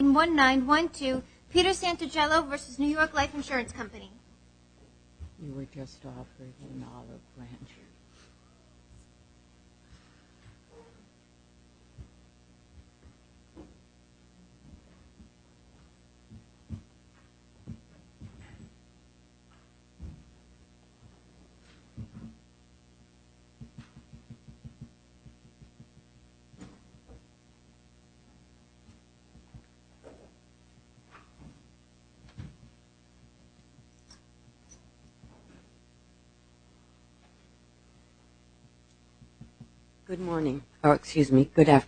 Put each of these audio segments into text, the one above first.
We were just offered an olive branch. I would request,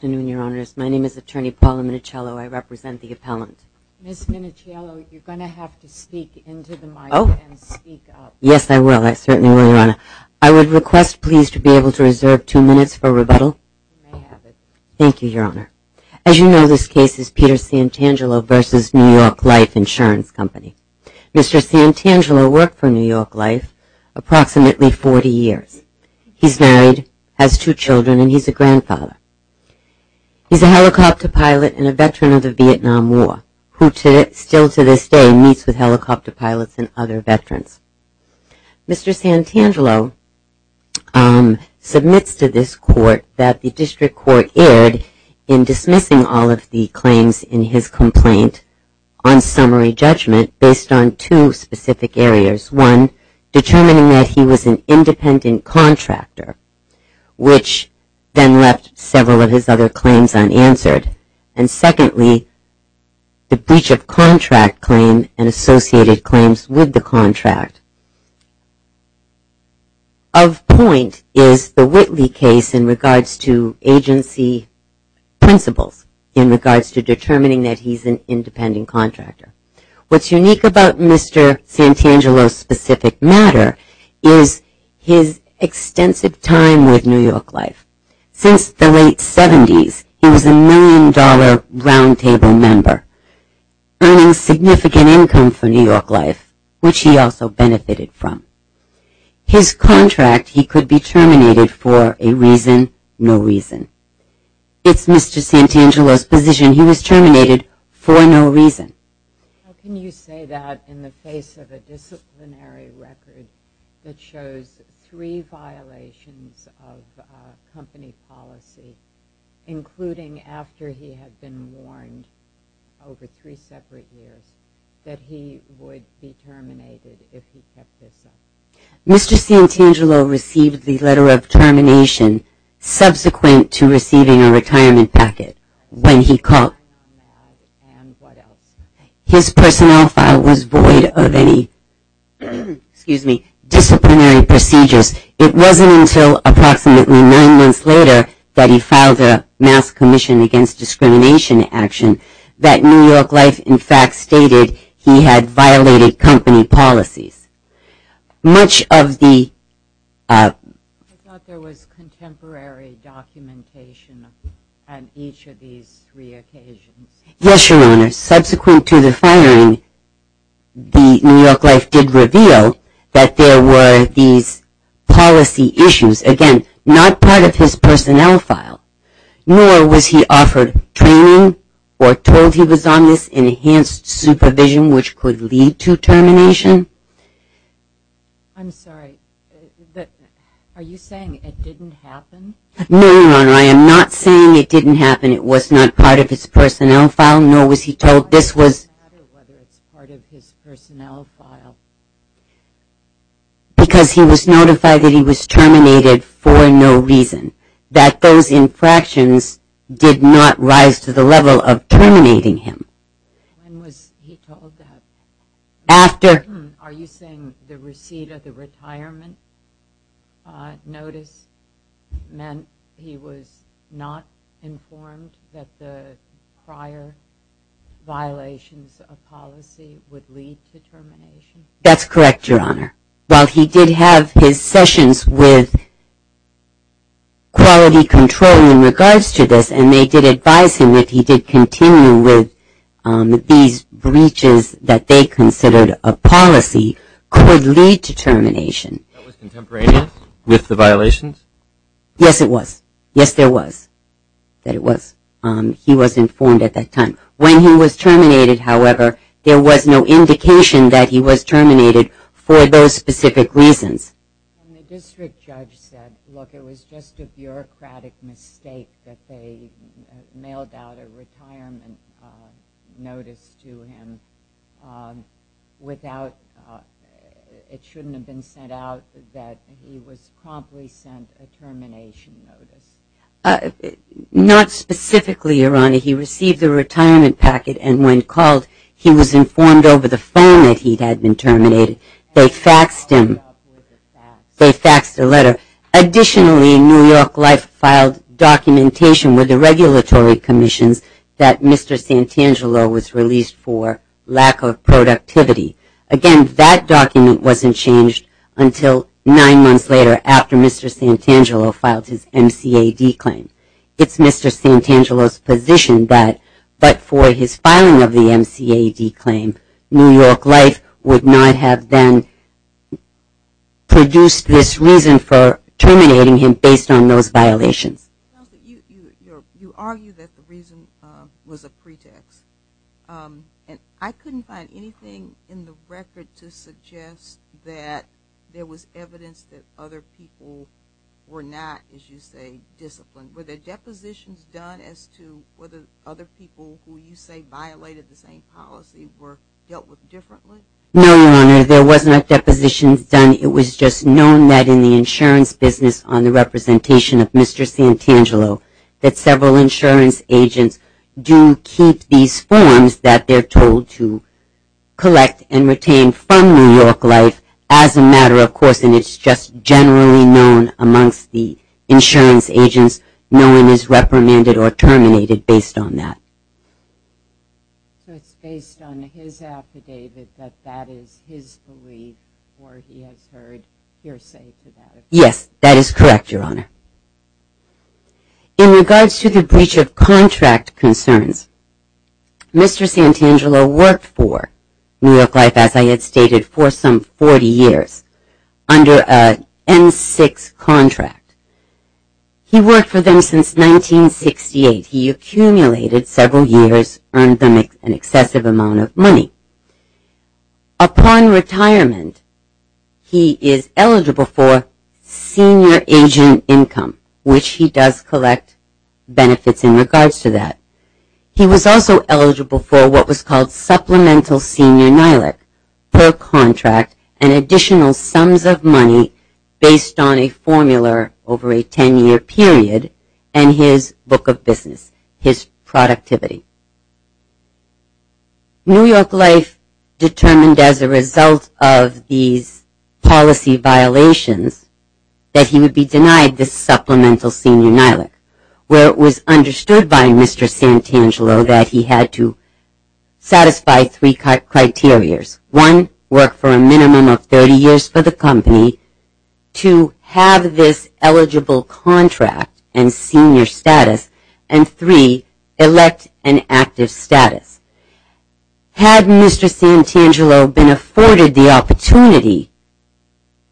please, to be able to reserve two minutes for rebuttal. Thank you, Your Honor. As you know, this case is Peter Santangelo v. New York Life Insurance Company. Mr. Santangelo worked for New York Life approximately 40 years. He's married, has two children, and he's a grandfather. He's a helicopter pilot and a veteran of the Vietnam War, who still to this day meets with helicopter pilots and other veterans. Mr. Santangelo submits to this court that the district court erred in dismissing all of the claims in his complaint on summary judgment based on two specific areas. One, determining that he was an independent contractor, which then left several of his other claims unanswered. And secondly, the breach of contract claim and associated claims with the contract. Of point is the Whitley case in regards to agency principles in regards to determining that he's an independent contractor. What's unique about Mr. Santangelo's specific matter is his extensive time with New York Life. Since the late 70s, he was a million-dollar roundtable member, earning significant income for New York Life, which he also benefited from. His contract, he could be terminated for a reason, no reason. It's Mr. Santangelo's position he was terminated for no reason. How can you say that in the face of a disciplinary record that shows three violations of company policy, including after he had been warned over three separate years that he would be terminated if he kept this up? Mr. Santangelo received the letter of termination subsequent to receiving a retirement packet when he called. His personnel file was void of any disciplinary procedures. It wasn't until approximately nine months later that he filed a mass commission against discrimination action that New York Life in fact stated he had violated company policies. Much of the... I thought there was contemporary documentation on each of these three occasions. Yes, Your Honor. Subsequent to the firing, New York Life did reveal that there were these policy issues. Again, not part of his personnel file, nor was he offered training or told he was on this enhanced supervision, which could lead to termination. I'm sorry. Are you saying it didn't happen? No, Your Honor. I am not saying it didn't happen. It was not part of his personnel file, nor was he told this was... Why does it matter whether it's part of his personnel file? Because he was notified that he was terminated for no reason, that those infractions did not rise to the level of terminating him. When was he told that? After... Are you saying the receipt of the retirement notice meant he was not informed that the prior violations of policy would lead to termination? That's correct, Your Honor. While he did have his sessions with quality control in regards to this, and they did advise him that if he did continue with these breaches that they considered a policy could lead to termination. That was contemporaneous with the violations? Yes, it was. Yes, there was, that it was. He was informed at that time. When he was terminated, however, there was no indication that he was terminated for those specific reasons. And the district judge said, look, it was just a bureaucratic mistake that they mailed out a retirement notice to him without... It shouldn't have been sent out that he was promptly sent a termination notice. Not specifically, Your Honor. He received a retirement packet, and when called he was informed over the phone that he had been terminated. They faxed him, they faxed a letter. Additionally, New York Life filed documentation with the regulatory commissions that Mr. Santangelo was released for lack of productivity. Again, that document wasn't changed until nine months later after Mr. Santangelo filed his MCAD claim. It's Mr. Santangelo's position that, but for his filing of the MCAD claim, New York Life would not have then produced this reason for terminating him based on those violations. You argue that the reason was a pretext. And I couldn't find anything in the record to suggest that there was evidence that other people were not, as you say, disciplined. Were there depositions done as to whether other people who you say violated the same policy were dealt with differently? No, Your Honor, there was not depositions done. It was just known that in the insurance business on the representation of Mr. Santangelo that several insurance agents do keep these forms that they're told to collect and retain from New York Life as a matter of course, and it's just generally known amongst the insurance agents no one is reprimanded or terminated based on that. So it's based on his affidavit that that is his belief or he has heard hearsay to that effect? Yes, that is correct, Your Honor. In regards to the breach of contract concerns, Mr. Santangelo worked for New York Life, as I had stated, for some 40 years under an N6 contract. He worked for them since 1968. He accumulated several years, earned them an excessive amount of money. Upon retirement, he is eligible for senior agent income, which he does collect benefits in regards to that. He was also eligible for what was called supplemental senior NILAC per contract and additional sums of money based on a formula over a 10-year period and his book of business, his productivity. New York Life determined as a result of these policy violations that he would be denied this supplemental senior NILAC, where it was understood by Mr. Santangelo that he had to satisfy three criteria. One, work for a minimum of 30 years for the company. Two, have this eligible contract and senior status. And three, elect an active status. Had Mr. Santangelo been afforded the opportunity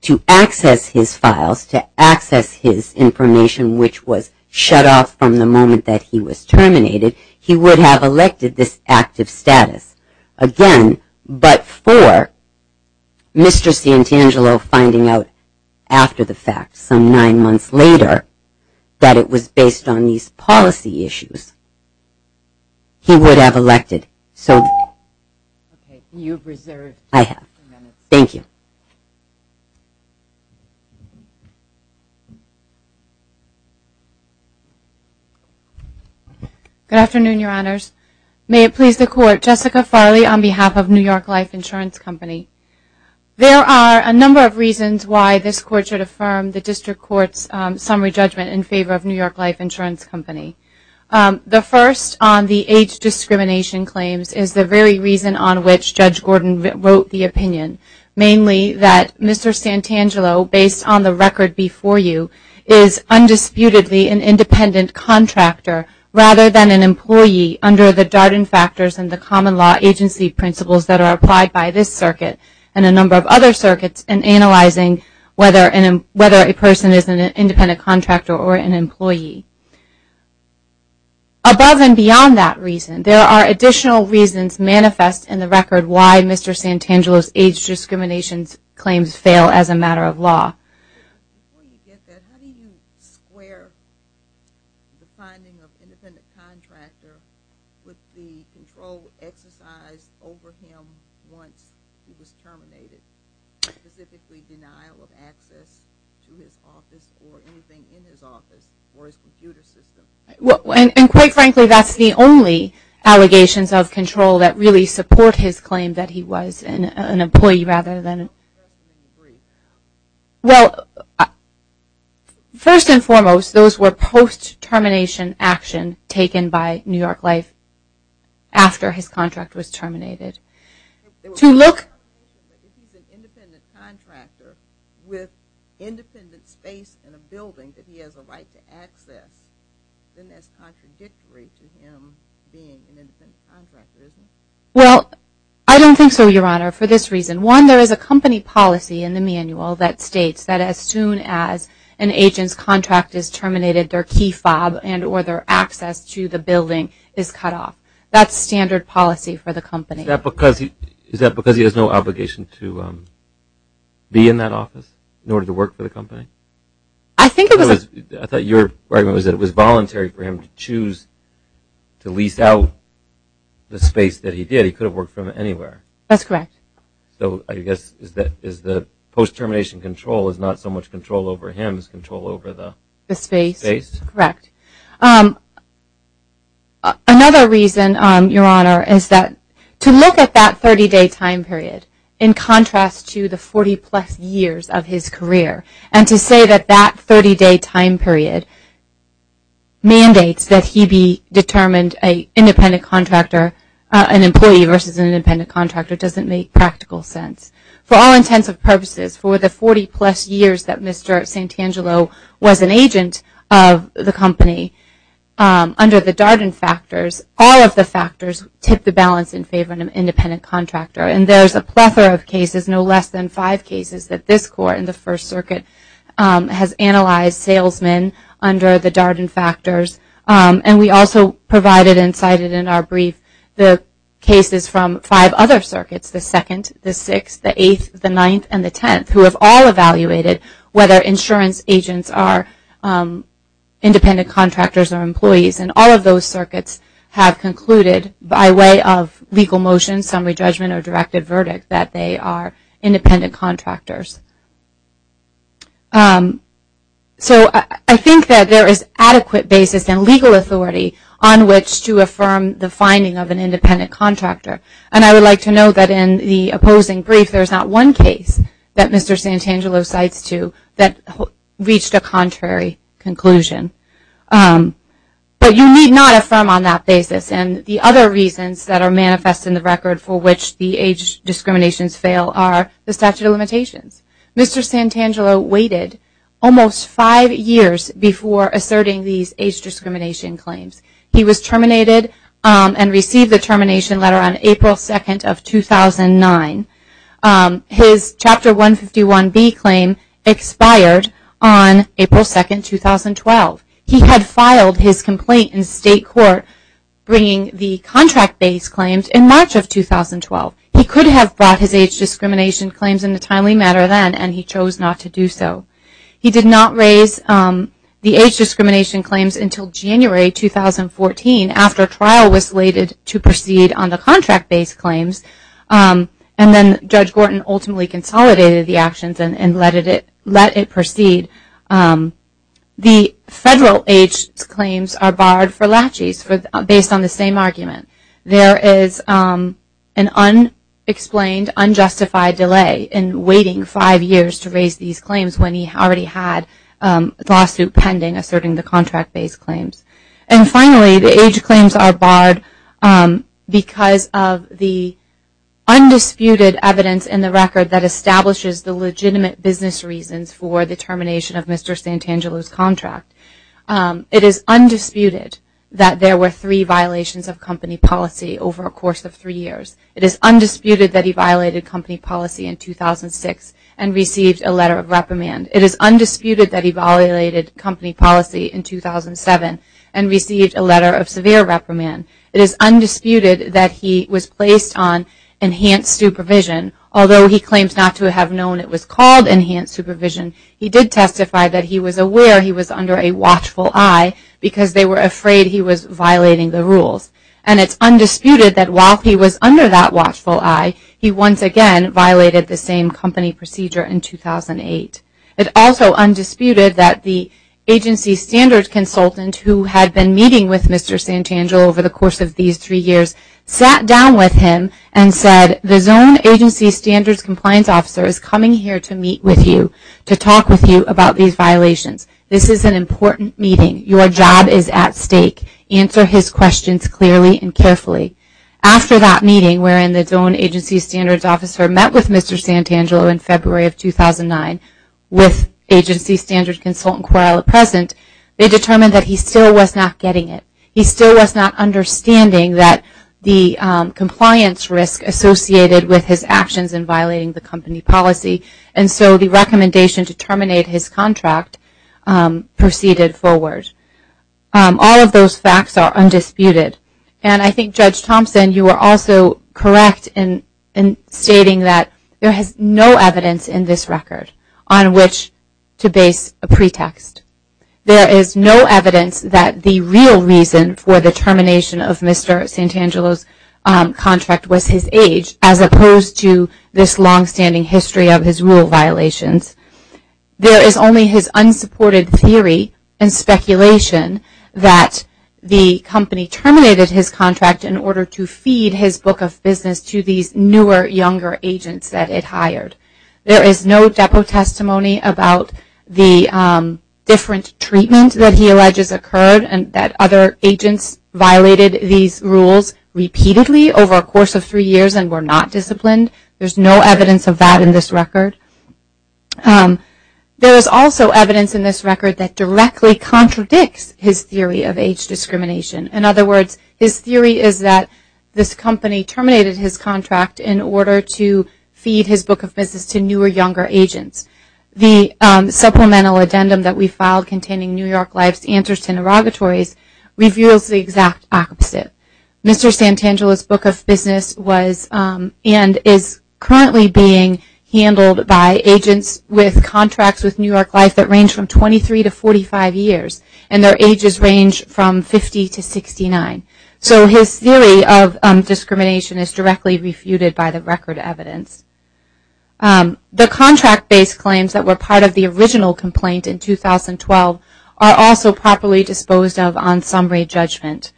to access his files, to access his information, which was shut off from the moment that he was terminated, he would have elected this active status. Again, but for Mr. Santangelo finding out after the fact, some nine months later, that it was based on these policy issues, he would have elected. So, I have. Thank you. Good afternoon, Your Honors. May it please the Court. Jessica Farley on behalf of New York Life Insurance Company. There are a number of reasons why this Court should affirm the District Court's summary judgment in favor of New York Life Insurance Company. The first on the age discrimination claims is the very reason on which Judge Gordon wrote the opinion, mainly that Mr. Santangelo, based on the record before you, is undisputedly an independent contractor rather than an employee under the Darden factors and the common law agency principles that are applied by this circuit and a number of other circuits in analyzing whether a person is an independent contractor or an employee. Above and beyond that reason, there are additional reasons manifest in the record why Mr. Santangelo's age discrimination claims fail as a matter of law. Before you get that, how do you square the finding of independent contractor with the control exercised over him once he was terminated, specifically denial of access to his office or anything in his office or his computer system? And quite frankly, that's the only allegations of control that really support his claim that he was an employee rather than an employee. Well, first and foremost, those were post-termination action taken by New York Life after his contract was terminated. To look... If he's an independent contractor with independent space in a building that he has a right to access, then that's contradictory to him being an independent contractor, isn't it? Well, I don't think so, Your Honor, for this reason. One, there is a company policy in the manual that states that as soon as an agent's contract is terminated, their key fob and or their access to the building is cut off. That's standard policy for the company. Is that because he has no obligation to be in that office in order to work for the company? I think it was... I thought your argument was that it was voluntary for him to choose to lease out the space that he did. He could have worked from anywhere. That's correct. So I guess is the post-termination control is not so much control over him as control over the space? Another reason, Your Honor, is that to look at that 30-day time period, in contrast to the 40-plus years of his career, and to say that that 30-day time period mandates that he be determined an independent contractor, an employee versus an independent contractor, doesn't make practical sense. For all intents and purposes, for the 40-plus years that Mr. Santangelo was an agent of the company, under the Darden factors, all of the factors tip the balance in favor of an independent contractor. And there's a plethora of cases, no less than five cases, that this Court in the First Circuit has analyzed salesmen under the Darden factors. And we also provided and cited in our brief the cases from five other circuits, the Second, the Sixth, the Eighth, the Ninth, and the Tenth, who have all evaluated whether insurance agents are independent contractors or employees. And all of those circuits have concluded, by way of legal motion, summary judgment, or directive verdict, that they are independent contractors. So I think that there is adequate basis and legal authority on which to affirm the finding of an independent contractor. And I would like to note that in the opposing brief, there's not one case that Mr. Santangelo cites to that reached a contrary conclusion. But you need not affirm on that basis. And the other reasons that are manifest in the record for which the age discriminations fail are the statute of limitations. Mr. Santangelo waited almost five years before asserting these age discrimination claims. He was terminated and received the termination letter on April 2nd of 2009. His Chapter 151B claim expired on April 2nd, 2012. He had filed his complaint in state court bringing the contract-based claims in March of 2012. He could have brought his age discrimination claims in a timely manner then, and he chose not to do so. He did not raise the age discrimination claims until January 2014, after trial was slated to proceed on the contract-based claims. And then Judge Gorton ultimately consolidated the actions and let it proceed. The federal age claims are barred for laches based on the same argument. There is an unexplained, unjustified delay in waiting five years to raise these claims when he already had a lawsuit pending asserting the contract-based claims. And finally, the age claims are barred because of the undisputed evidence in the record that establishes the legitimate business reasons for the termination of Mr. Santangelo's contract. It is undisputed that there were three violations of company policy over a course of three years. It is undisputed that he violated company policy in 2006 and received a letter of reprimand. It is undisputed that he violated company policy in 2007 and received a letter of severe reprimand. It is undisputed that he was placed on enhanced supervision. Although he claims not to have known it was called enhanced supervision, he did testify that he was aware he was under a watchful eye because they were afraid he was violating the rules. And it's undisputed that while he was under that watchful eye, he once again violated the same company procedure in 2008. It's also undisputed that the agency standards consultant who had been meeting with Mr. Santangelo over the course of these three years sat down with him and said, the zone agency standards compliance officer is coming here to meet with you, to talk with you about these violations. This is an important meeting. Your job is at stake. Answer his questions clearly and carefully. After that meeting wherein the zone agency standards officer met with Mr. Santangelo in February of 2009 with agency standards consultant Corella present, they determined that he still was not getting it. He still was not understanding that the compliance risk associated with his actions in violating the company policy. And so the recommendation to terminate his contract proceeded forward. All of those facts are undisputed. And I think, Judge Thompson, you are also correct in stating that there is no evidence in this record on which to base a pretext. There is no evidence that the real reason for the termination of Mr. Santangelo's contract was his age, as opposed to this longstanding history of his rule violations. There is only his unsupported theory and speculation that the company terminated his contract in order to feed his book of business to these newer, younger agents that it hired. There is no depo testimony about the different treatment that he alleges occurred and that other agents violated these rules repeatedly over a course of three years and were not disciplined. There is no evidence of that in this record. There is also evidence in this record that directly contradicts his theory of age discrimination. In other words, his theory is that this company terminated his contract in order to feed his book of business to newer, younger agents. The supplemental addendum that we filed containing New York Life's answers to interrogatories reveals the exact opposite. Mr. Santangelo's book of business was and is currently being handled by agents with contracts with New York Life that range from 23 to 45 years. And their ages range from 50 to 69. So his theory of discrimination is directly refuted by the record evidence. The contract-based claims that were part of the original complaint in 2012 are also properly disposed of on summary judgment.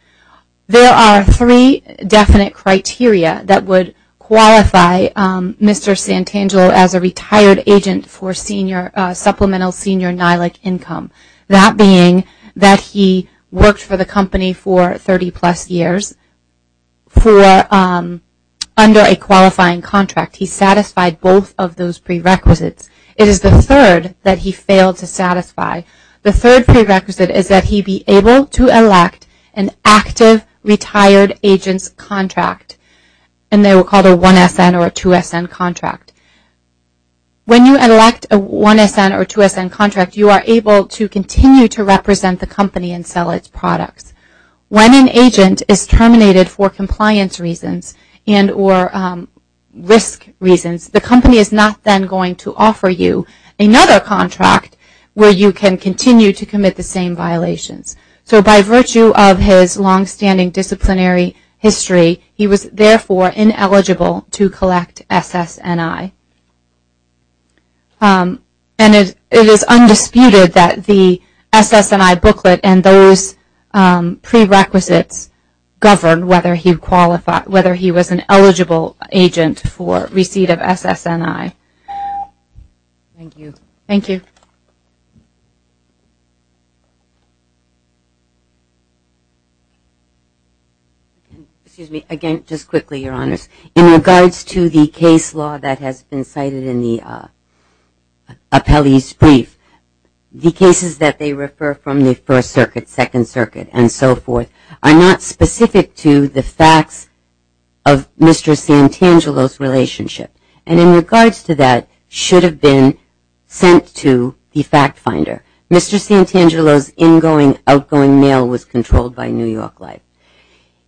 There are three definite criteria that would qualify Mr. Santangelo as a retired agent for supplemental senior NILAC income. That being that he worked for the company for 30 plus years under a qualifying contract. He satisfied both of those prerequisites. It is the third that he failed to satisfy. The third prerequisite is that he be able to elect an active retired agent's contract. And they were called a 1-SN or a 2-SN contract. When you elect a 1-SN or 2-SN contract, you are able to continue to represent the company and sell its products. When an agent is terminated for compliance reasons and or risk reasons, the company is not then going to offer you another contract where you can continue to commit the same violations. So by virtue of his long-standing disciplinary history, he was therefore ineligible to collect SSNI. And it is undisputed that the SSNI booklet and those prerequisites govern whether he was an eligible agent for receipt of SSNI. Thank you. Thank you. Excuse me. Again, just quickly, Your Honors. In regards to the case law that has been cited in the appellee's brief, the cases that they refer from the First Circuit, Second Circuit, and so forth, are not specific to the facts of Mr. Santangelo's relationship. And in regards to that, should have been sent to the fact finder. Mr. Santangelo's in-going, outgoing mail was controlled by New York Life.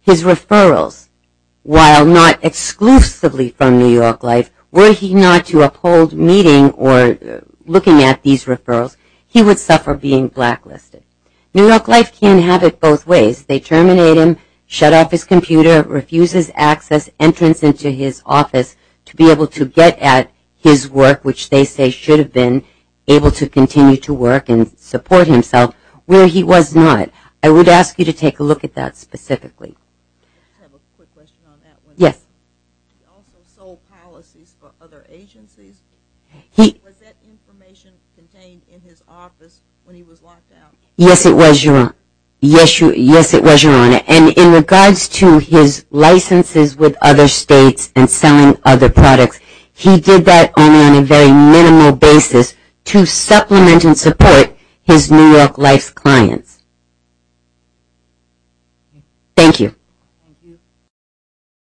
His referrals, while not exclusively from New York Life, were he not to uphold meeting or looking at these referrals, he would suffer being blacklisted. New York Life can have it both ways. They terminate him, shut off his computer, refuses access, entrance into his office to be able to get at his work, which they say should have been able to continue to work and support himself where he was not. I would ask you to take a look at that specifically. I have a quick question on that one. Yes. He also sold policies for other agencies. Was that information contained in his office when he was locked out? Yes, it was, Your Honor. Yes, it was, Your Honor. And in regards to his licenses with other states and selling other products, he did that only on a very minimal basis to supplement and support his New York Life clients. Thank you.